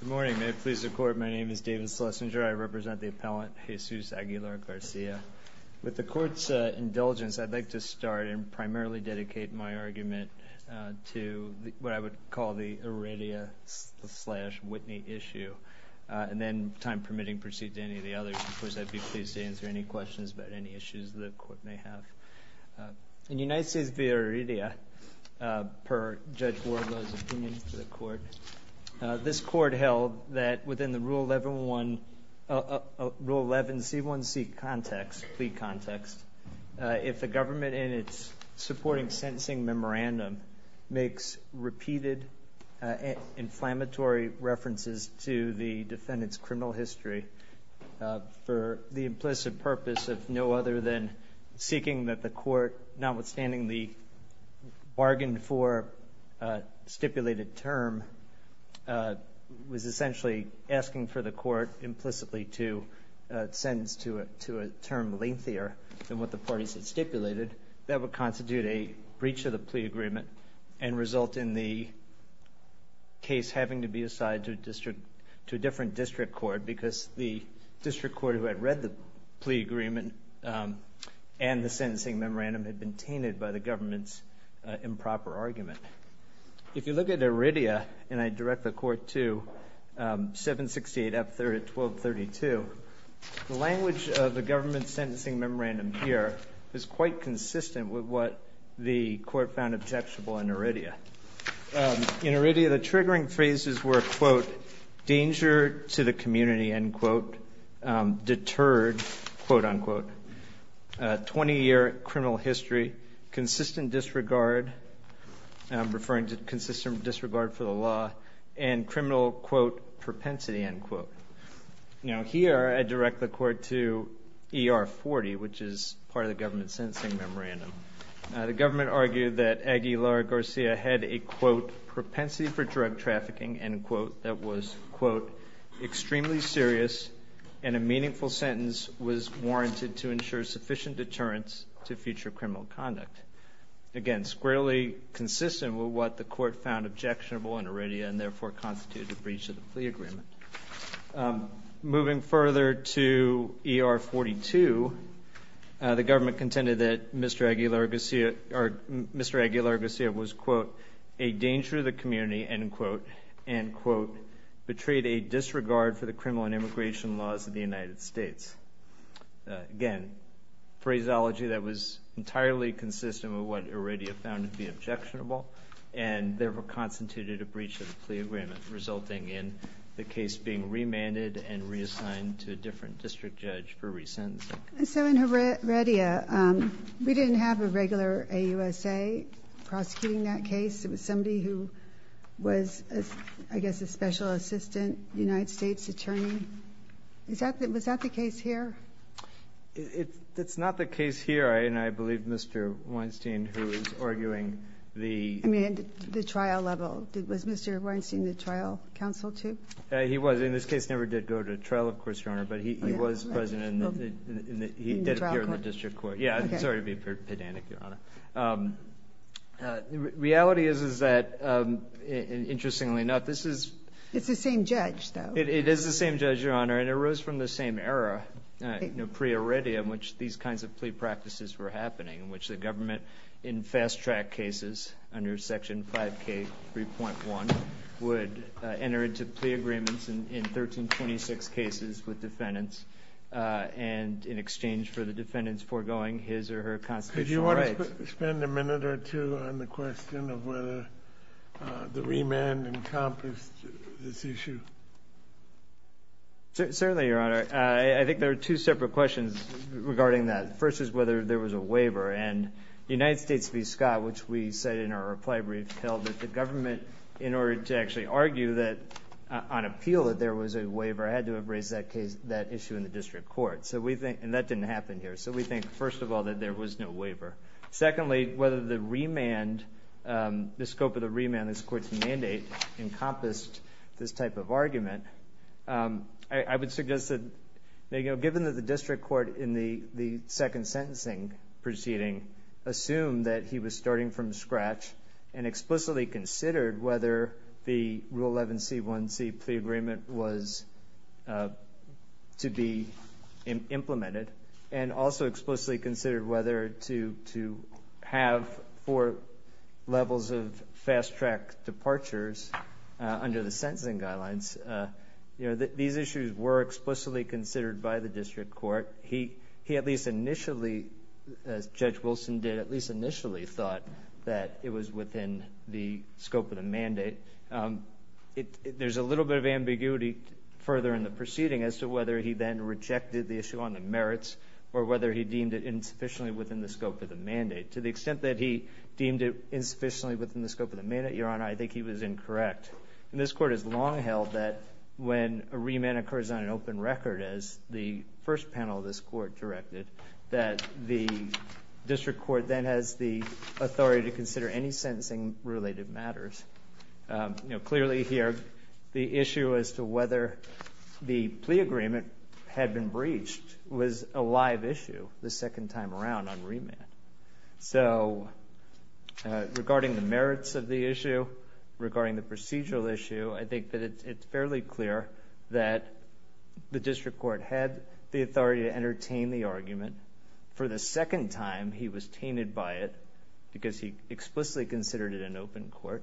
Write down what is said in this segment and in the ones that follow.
Good morning. May it please the Court, my name is David Schlesinger. I represent the appellant Jesus Aguilar-Garcia. With the Court's indulgence, I'd like to start and primarily dedicate my argument to what I would call the Aridia-Whitney issue, and then, time permitting, proceed to any of the others. Of course, I'd be pleased to answer any questions about any issues the Court may have. In United States v. Aridia, per Judge Wardlow's opinion to the Court, this Court held that within the Rule 11C1C plea context, if the government in its supporting sentencing memorandum makes repeated inflammatory references to the defendant's criminal history for the implicit purpose of no other than seeking that the Court, notwithstanding the bargain for a stipulated term, was essentially asking for the Court implicitly to sentence to a term lengthier than what the parties had stipulated, that would constitute a breach of the plea agreement and result in the case having to be assigned to a different district court because the district court who had read the plea agreement and the sentencing memorandum had been tainted by the government's improper argument. If you look at Aridia, and I direct the Court to 768F1232, the language of the government's sentencing memorandum here is quite consistent with what the Court found objectionable in Aridia. In Aridia, the triggering phrases were, quote, danger to the community, end quote, deterred, quote, unquote, 20-year criminal history, consistent disregard, I'm referring to consistent disregard for the law, and criminal, quote, propensity, end quote. Now here, I direct the Court to ER40, which is part of the government's sentencing memorandum. The government argued that Aguilar Garcia had a, quote, propensity for drug trafficking, end quote, that was, quote, extremely serious and a meaningful sentence was warranted to ensure sufficient deterrence to future criminal conduct. Again, squarely consistent with what the Court found objectionable in Aridia and therefore constituted a breach of the plea agreement. Moving further to ER42, the government argued was, quote, a danger to the community, end quote, end quote, betrayed a disregard for the criminal and immigration laws of the United States. Again, phraseology that was entirely consistent with what Aridia found to be objectionable and therefore constituted a breach of the plea agreement, resulting in the case being remanded and reassigned to a different district judge for re-sentencing. So in Aridia, we didn't have a regular AUSA prosecuting that case. It was somebody who was, I guess, a special assistant United States attorney. Was that the case here? It's not the case here, and I believe Mr. Weinstein, who is arguing the... I mean, the trial level. Was Mr. Weinstein the trial counsel, too? He was. In this case, never did go to trial, of course, Your Honor, but he was present and he did appear in the district court. Yeah, sorry to be pedantic, Your Honor. Reality is that, interestingly enough, this is... It's the same judge, though. It is the same judge, Your Honor, and it arose from the same era, you know, pre-Aridia, in which these kinds of plea practices were happening, in which the government, in fast-track cases, under Section 5K3.1, would enter into plea agreements in 1326 cases with defendants and in exchange for the defendants foregoing his or her constitutional rights. Could you want to spend a minute or two on the question of whether the remand encompassed this issue? Certainly, Your Honor. I think there are two separate questions regarding that. The first is whether there was a waiver, and the United States v. Scott, which we said in our reply brief, held that the government, in order to actually argue that, on appeal, that there was a waiver, had to have raised that issue in the district court. And that didn't happen here. So we think, first of all, that there was no waiver. Secondly, whether the scope of the remand this court's mandate encompassed this type of argument, I would suggest that, given that the district court, in the second sentencing proceeding, assumed that he was starting from scratch and explicitly considered whether the Rule 11c1c plea agreement was to be implemented, and also explicitly considered whether to have four levels of fast-track departures under the sentencing guidelines, these issues were explicitly considered by the district court. He at least initially, as Judge Wilson did, at least initially thought that it was within the scope of the mandate. There's a little bit of ambiguity further in the proceeding as to whether he then rejected the issue on the merits, or whether he deemed it insufficiently within the scope of the mandate. To the extent that he deemed it insufficiently within the scope of the mandate, Your Honor, I think he was incorrect. And this court has long held that, when a remand occurs on an open record, as the first panel of this court directed, that the district court then has the authority to consider any sentencing-related matters. Clearly here, the issue as to whether the plea agreement had been breached was a live issue the second time around on remand. So, regarding the merits of the issue, regarding the procedural issue, I think that it's fairly clear that the district court had the authority to entertain the argument. For the second time, he was tainted by it, because he explicitly considered it an open court.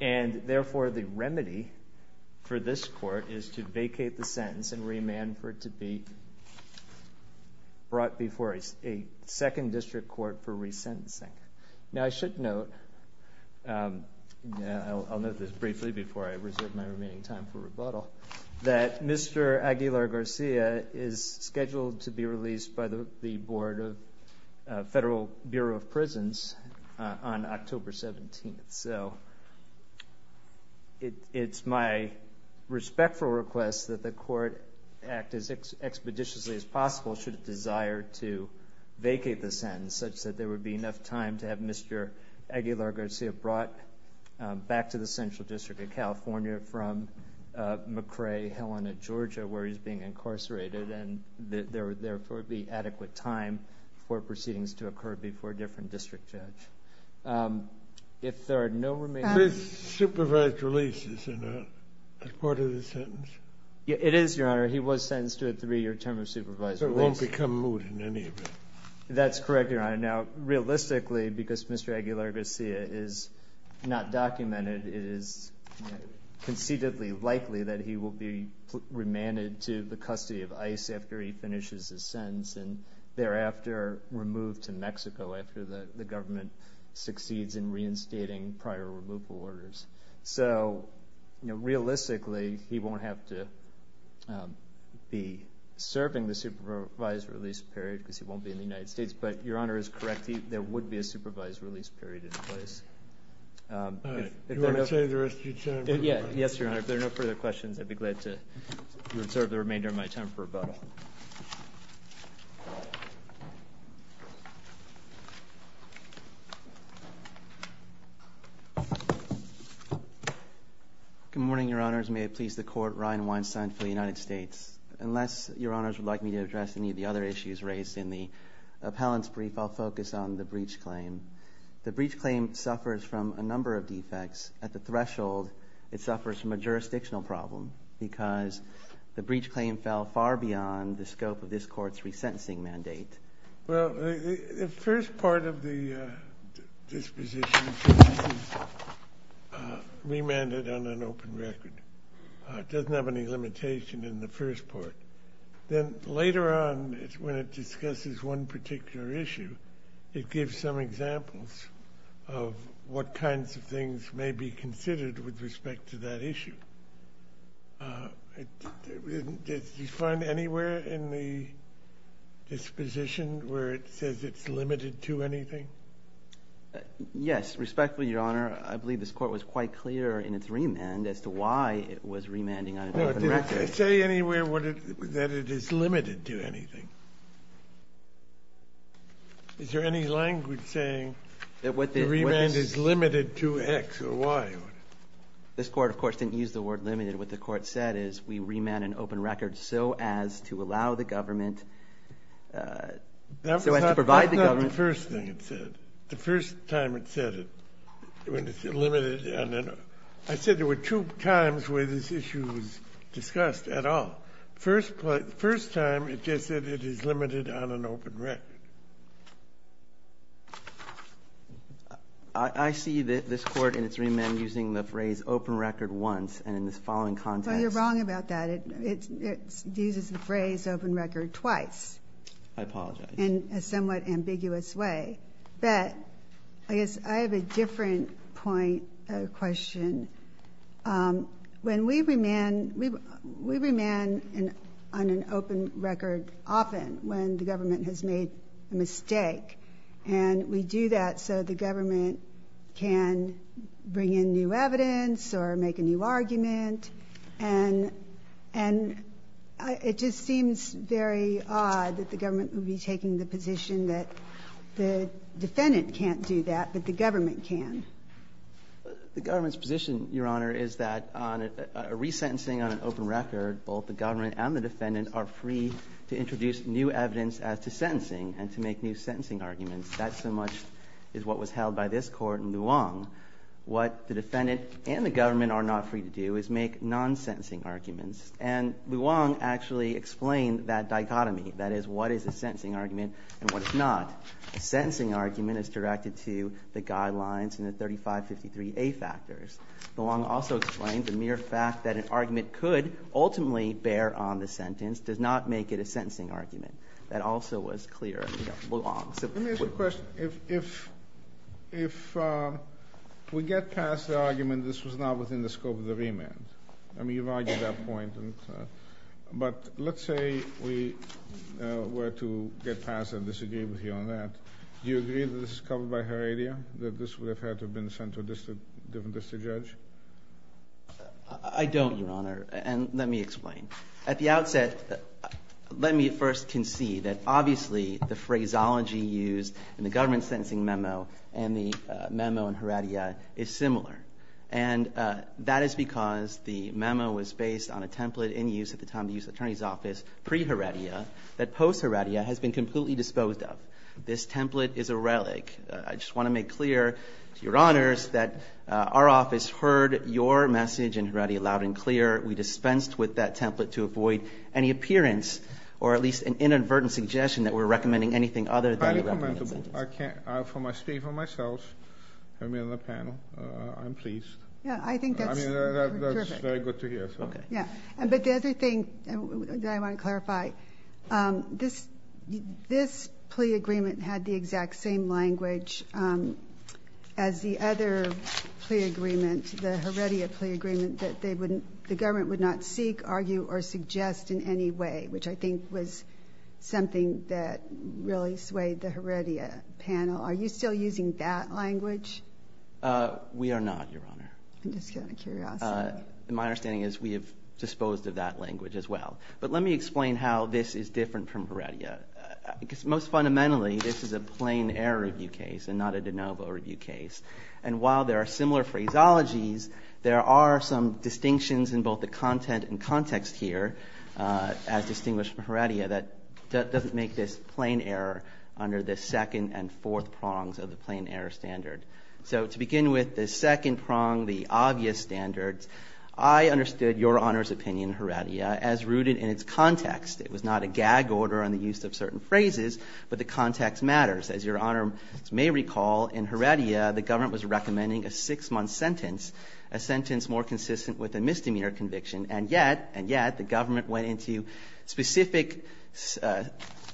And, therefore, the remedy for this court is to vacate the sentence and remand for it to be brought before a second district court for resentencing. Now, I should note, I'll note this briefly before I reserve my remaining time for rebuttal, that Mr. Aguilar-Garcia is scheduled to be released by the Board of Federal Bureau of Prisons on October 17th. So, it's my respectful request that the court act as expeditiously as possible, should it desire to vacate the sentence, such that there would be enough time to have Mr. Aguilar-Garcia brought back to the Central District of California from McCrae, Helena, Georgia, where he's being incarcerated, and there would, therefore, be adequate time for proceedings to occur before a different district judge. If there are no remaining... This supervised release is not a part of the sentence? It is, Your Honor. He was sentenced to a three-year term of supervised release. So, it won't become moot in any event? That's correct, Your Honor. Now, realistically, because Mr. Aguilar-Garcia is not documented, it is concededly likely that he will be remanded to the custody of ICE after he finishes his sentence, and thereafter removed to Mexico after the government succeeds in reinstating prior removal orders. So, realistically, he won't have to be serving the supervised release period because he won't be in the United States, but Your Honor is correct. There would be a supervised release period in place. All right. Do you want to save the rest of your time? Yes, Your Honor. If there are no further questions, I'd be glad to reserve the remainder of my time for rebuttal. Good morning, Your Honors. May it please the Court, Ryan Weinstein for the United States. Unless Your Honors would like me to address any of the other issues raised in the appellant's brief, I'll focus on the breach claim. The breach claim suffers from a number of defects. At the threshold, it suffers from a jurisdictional problem because the breach claim fell far beyond the scope of this Court's resentencing mandate. Well, the first part of the disposition is remanded on an open record. It doesn't have any limitation in the first part. Then, later on, when it discusses one particular issue, it gives some examples of what kinds of things may be considered with respect to that issue. Do you find anywhere in the disposition where it says it's limited to anything? Yes, respectfully, Your Honor, I believe this Court was quite clear in its remand as to why it was remanding on an open record. Did it say anywhere that it is limited to anything? Is there any language saying the remand is limited to X or Y? This Court, of course, didn't use the word limited. What the Court said is we remand an open record so as to allow the government, so as to provide the government. That's not the first thing it said. The first time it said it, when it said limited. I said there were two times where this issue was discussed at all. First time, it just said it is limited on an open record. I see this Court in its remand using the phrase open record once and in this following context. Well, you're wrong about that. It uses the phrase open record twice. I apologize. In a somewhat ambiguous way. But I guess I have a different point of question. When we remand, we remand on an open record often when the government has made a mistake and we do that so the government can bring in new evidence or make a new argument and it just seems very odd that the government would be taking the position that the defendant can't do that but the government can. The government's position, Your Honor, is that on a resentencing on an open record, both the government and the defendant are free to introduce new evidence as to sentencing and to make new sentencing arguments. That so much is what was held by this Court in Luong. What the defendant and the government are not free to do is make non-sentencing arguments and Luong actually explained that dichotomy. That is, what is a sentencing argument and what is not. A sentencing argument is directed to the guidelines and the 3553A factors. Luong also explained the mere fact that an argument could ultimately bear on the sentence does not make it a sentencing argument. That also was clear in Luong. Let me ask you a question. If we get past the argument that this was not within the scope of the remand, I mean you've argued that point, but let's say we were to get past and disagree with you on that. Do you agree that this is covered by Heredia? That this would have had to have been sent to a different district judge? I don't, Your Honor, and let me explain. At the outset, let me first concede that obviously the phraseology used in the government sentencing memo and the memo in Heredia is similar. And that is because the memo was based on a template in use at the time of the U.S. Attorney's Office pre-Heredia that post-Heredia has been completely disposed of. This template is a relic. I just want to make clear to Your Honors that our office heard your message in Heredia loud and clear. We dispensed with that template to avoid any appearance or at least an inadvertent suggestion that we're recommending anything other than a recommendation. I can't speak for myself. I'm in the panel. I'm pleased. Yeah, I think that's terrific. That's very good to hear. But the other thing that I want to clarify, this plea agreement had the exact same language as the other plea agreement, the Heredia plea agreement, that the government would not seek, argue, or suggest in any way, which I think was something that really swayed the Heredia panel. Are you still using that language? We are not, Your Honor. I'm just getting a curiosity. My understanding is we have disposed of that language as well. But let me explain how this is different from Heredia. Most fundamentally, this is a plain air review case and not a de novo review case. And while there are similar phraseologies, there are some distinctions in both the content and context here as distinguished from Heredia that doesn't make this plain air under the second and fourth prongs of the plain air standard. So to begin with, the second prong, the obvious standards, I understood Your Honor's opinion in Heredia as rooted in its context. It was not a gag order on the use of certain phrases, but the context matters. As Your Honor may recall, in Heredia, the government was recommending a six-month sentence, a sentence more consistent with a misdemeanor conviction. And yet, the government went into specific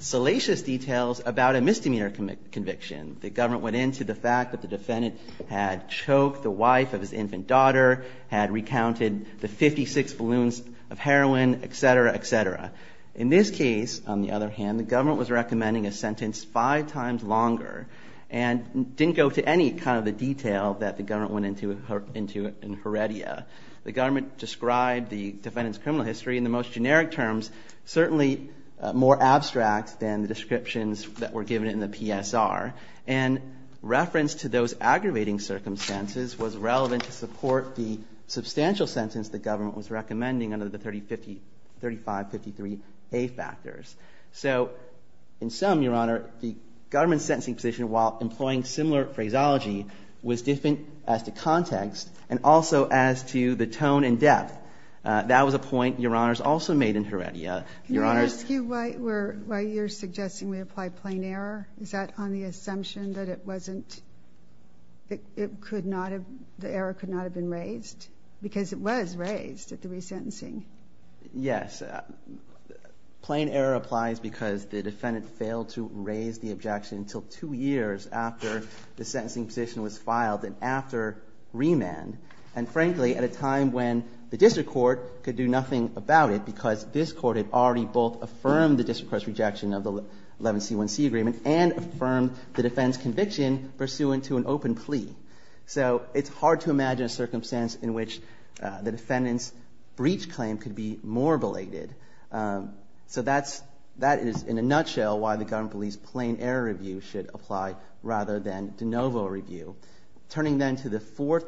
salacious details about a misdemeanor conviction. The government went into the fact that the defendant had choked the wife of his infant daughter, had recounted the 56 balloons of heroin, etc., etc. In this case, on the other hand, the government was recommending a sentence five times longer and didn't go to any kind of detail that the government went into in Heredia. The government described the defendant's criminal history in the most generic terms, certainly more abstract than the descriptions that were given in the PSR. And reference to those aggravating circumstances was relevant to support the substantial sentence So in sum, Your Honor, the government's sentencing position, while employing similar phraseology, was different as to context and also as to the tone and depth. That was a point Your Honors also made in Heredia. Can I ask you why you're suggesting we apply plain error? Is that on the assumption that it wasn't, that the error could not have been raised? Because it was raised at the resentencing. Yes. Plain error applies because the defendant failed to raise the objection until two years after the sentencing position was filed and after remand. And frankly, at a time when the district court could do nothing about it because this court had already both affirmed the district court's rejection of the 11C1C agreement and affirmed the defendant's conviction pursuant to an open plea. So it's hard to imagine a circumstance in which the defendant's breach claim could be more belated. So that is, in a nutshell, why the government believes plain error review should apply rather than de novo review. Turning then to the fourth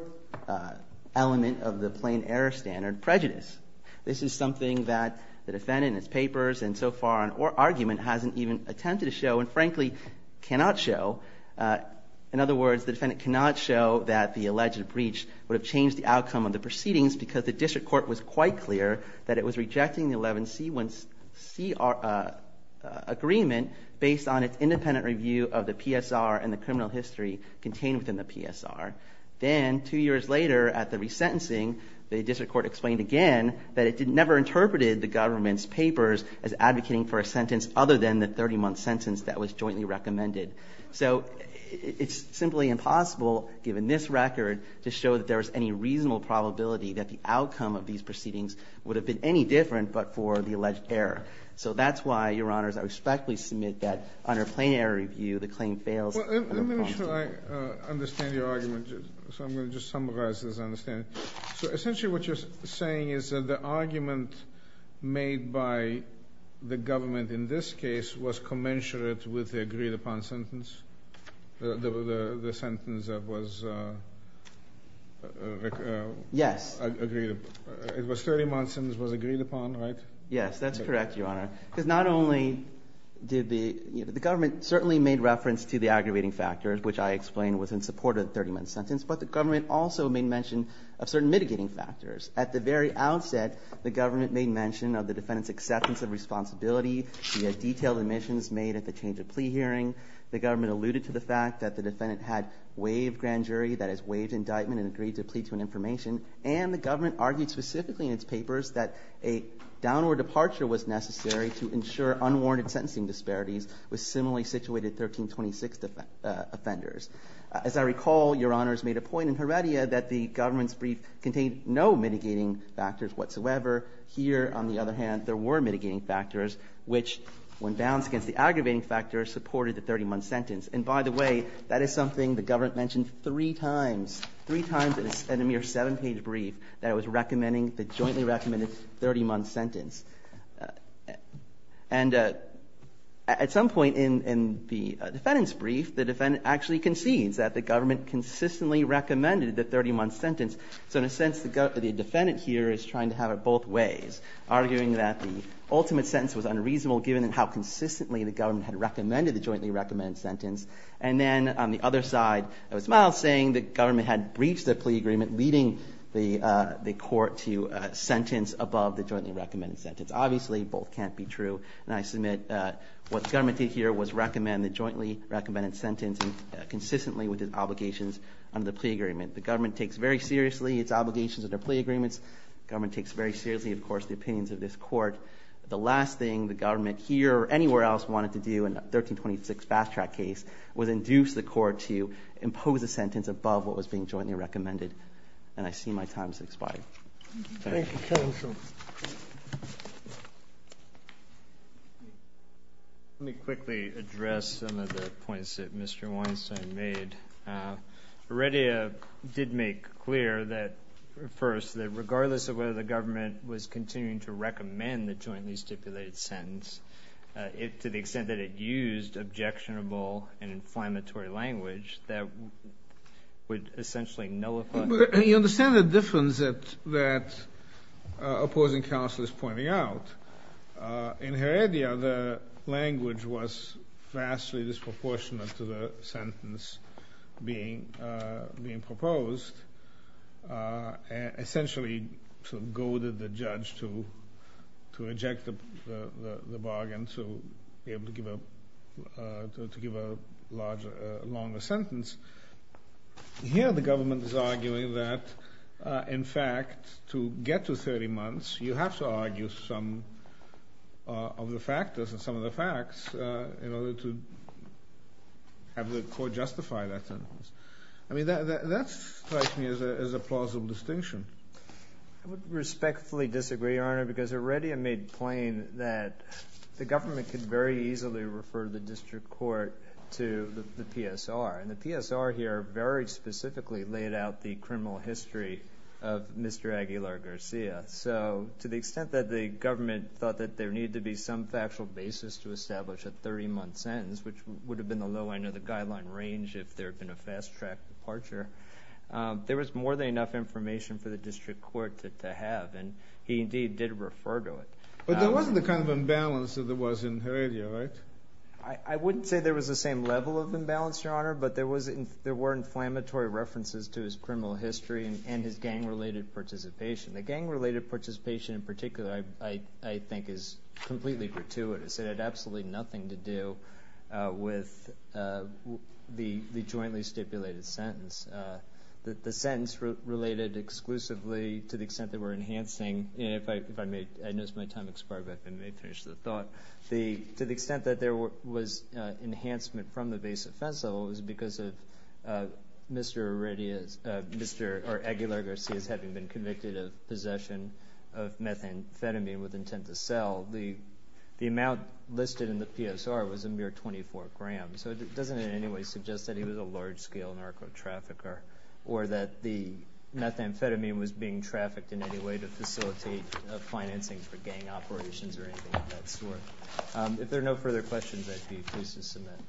element of the plain error standard, prejudice. This is something that the defendant in his papers and so far in our argument hasn't even attempted to show and frankly cannot show. In other words, the defendant cannot show that the alleged breach would have changed the outcome of the proceedings because the district court was quite clear that it was rejecting the 11C1C agreement based on its independent review of the PSR and the criminal history contained within the PSR. Then, two years later at the resentencing, the district court explained again that it never interpreted the government's papers as advocating for a sentence other than the 30-month sentence that was jointly recommended. So it's simply impossible, given this record, to show that there was any reasonable probability that the outcome of these proceedings would have been any different but for the alleged error. So that's why, Your Honors, I respectfully submit that under plain error review the claim fails. Let me make sure I understand your argument. So I'm going to just summarize this as I understand it. So essentially what you're saying is that the argument made by the government in this case was commensurate with the agreed-upon sentence? The sentence that was... Yes. It was 30 months and it was agreed upon, right? Yes, that's correct, Your Honor. Because not only did the government certainly made reference to the aggravating factors, which I explained was in support of the 30-month sentence, but the government also made mention of certain mitigating factors. At the very outset, the government made mention of the defendant's acceptance of responsibility via detailed admissions made at the change-of-plea hearing. The government alluded to the fact that the defendant had waived grand jury, that is, waived indictment and agreed to plead to an information, and the government argued specifically in its papers that a downward departure was necessary to ensure unwarranted sentencing disparities with similarly situated 1326 offenders. As I recall, Your Honors made a point in Heredia that the government's brief contained no mitigating factors whatsoever. Here, on the other hand, there were mitigating factors which, when balanced against the aggravating factors, supported the 30-month sentence. And by the way, that is something the government mentioned three times in a mere seven-page brief that it was recommending the jointly-recommended 30-month sentence. And at some point in the defendant's brief, the defendant actually concedes that the government consistently recommended the 30-month sentence. So in a sense, the defendant here is trying to have it both ways, arguing that the ultimate sentence was unreasonable given how consistently the government had recommended the jointly-recommended sentence. And then, on the other side, it was Miles saying the government had breached the plea agreement, leading the court to sentence above the jointly-recommended sentence. Obviously, both can't be true. And I submit what the government did here was recommend the jointly-recommended sentence consistently with its obligations under the plea agreement. The government takes very seriously its obligations under plea agreements. The government takes very seriously, of course, the opinions of this court. The last thing the government here, or anywhere else, wanted to do in the 1326 Fast Track case was induce the court to impose a sentence above what was being jointly-recommended. And I see my time has expired. Thank you, counsel. Let me quickly address some of the points that Mr. Weinstein made. Heredia did make clear that, first, regardless of whether the government was continuing to recommend the jointly-stipulated sentence to the extent that it used objectionable and inflammatory language that would essentially nullify... You understand the difference that opposing counsel is pointing out. In Heredia, the language was vastly disproportionate to the sentence being proposed. Essentially, it goaded the judge to reject the bargain to be able to give a longer sentence. Here, the government is arguing that in fact, to get to 30 months, you have to argue some of the factors and some of the facts in order to have the court justify that sentence. That strikes me as a plausible distinction. I would respectfully disagree, Your Honor, because Heredia made plain that the government could very easily refer the district court to the PSR. The PSR here very specifically laid out the criminal history of Mr. Aguilar-Garcia. To the extent that the government thought that there needed to be some factual basis to establish a 30-month sentence, which would have been the low end of the guideline range if there had been a fast-track departure, there was more than enough information for the district court to have, and he indeed did refer to it. But there wasn't the kind of imbalance that there was in Heredia, right? I wouldn't say there was the same level of imbalance, Your Honor, but there were inflammatory references to his criminal history and his gang-related participation. The gang-related participation in particular I think is completely gratuitous. It had absolutely nothing to do with the jointly stipulated sentence. The sentence related exclusively to the extent that we're enhancing... I know it's my time expired, but I may finish the thought. To the extent that there was enhancement from the base offense level was because of Mr. Heredia's... Mr. Aguilar-Garcia's having been convicted of possession of methamphetamine with intent to sell. The amount listed in the PSR was a mere 24 grams, so it doesn't in any way suggest that he was a large-scale narco-trafficker or that the methamphetamine was being trafficked in any way to facilitate financing for gang operations or anything of that sort. If there are no further questions, I'd be pleased to submit.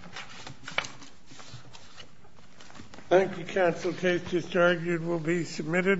Thank you, Counsel. Case just argued will be submitted.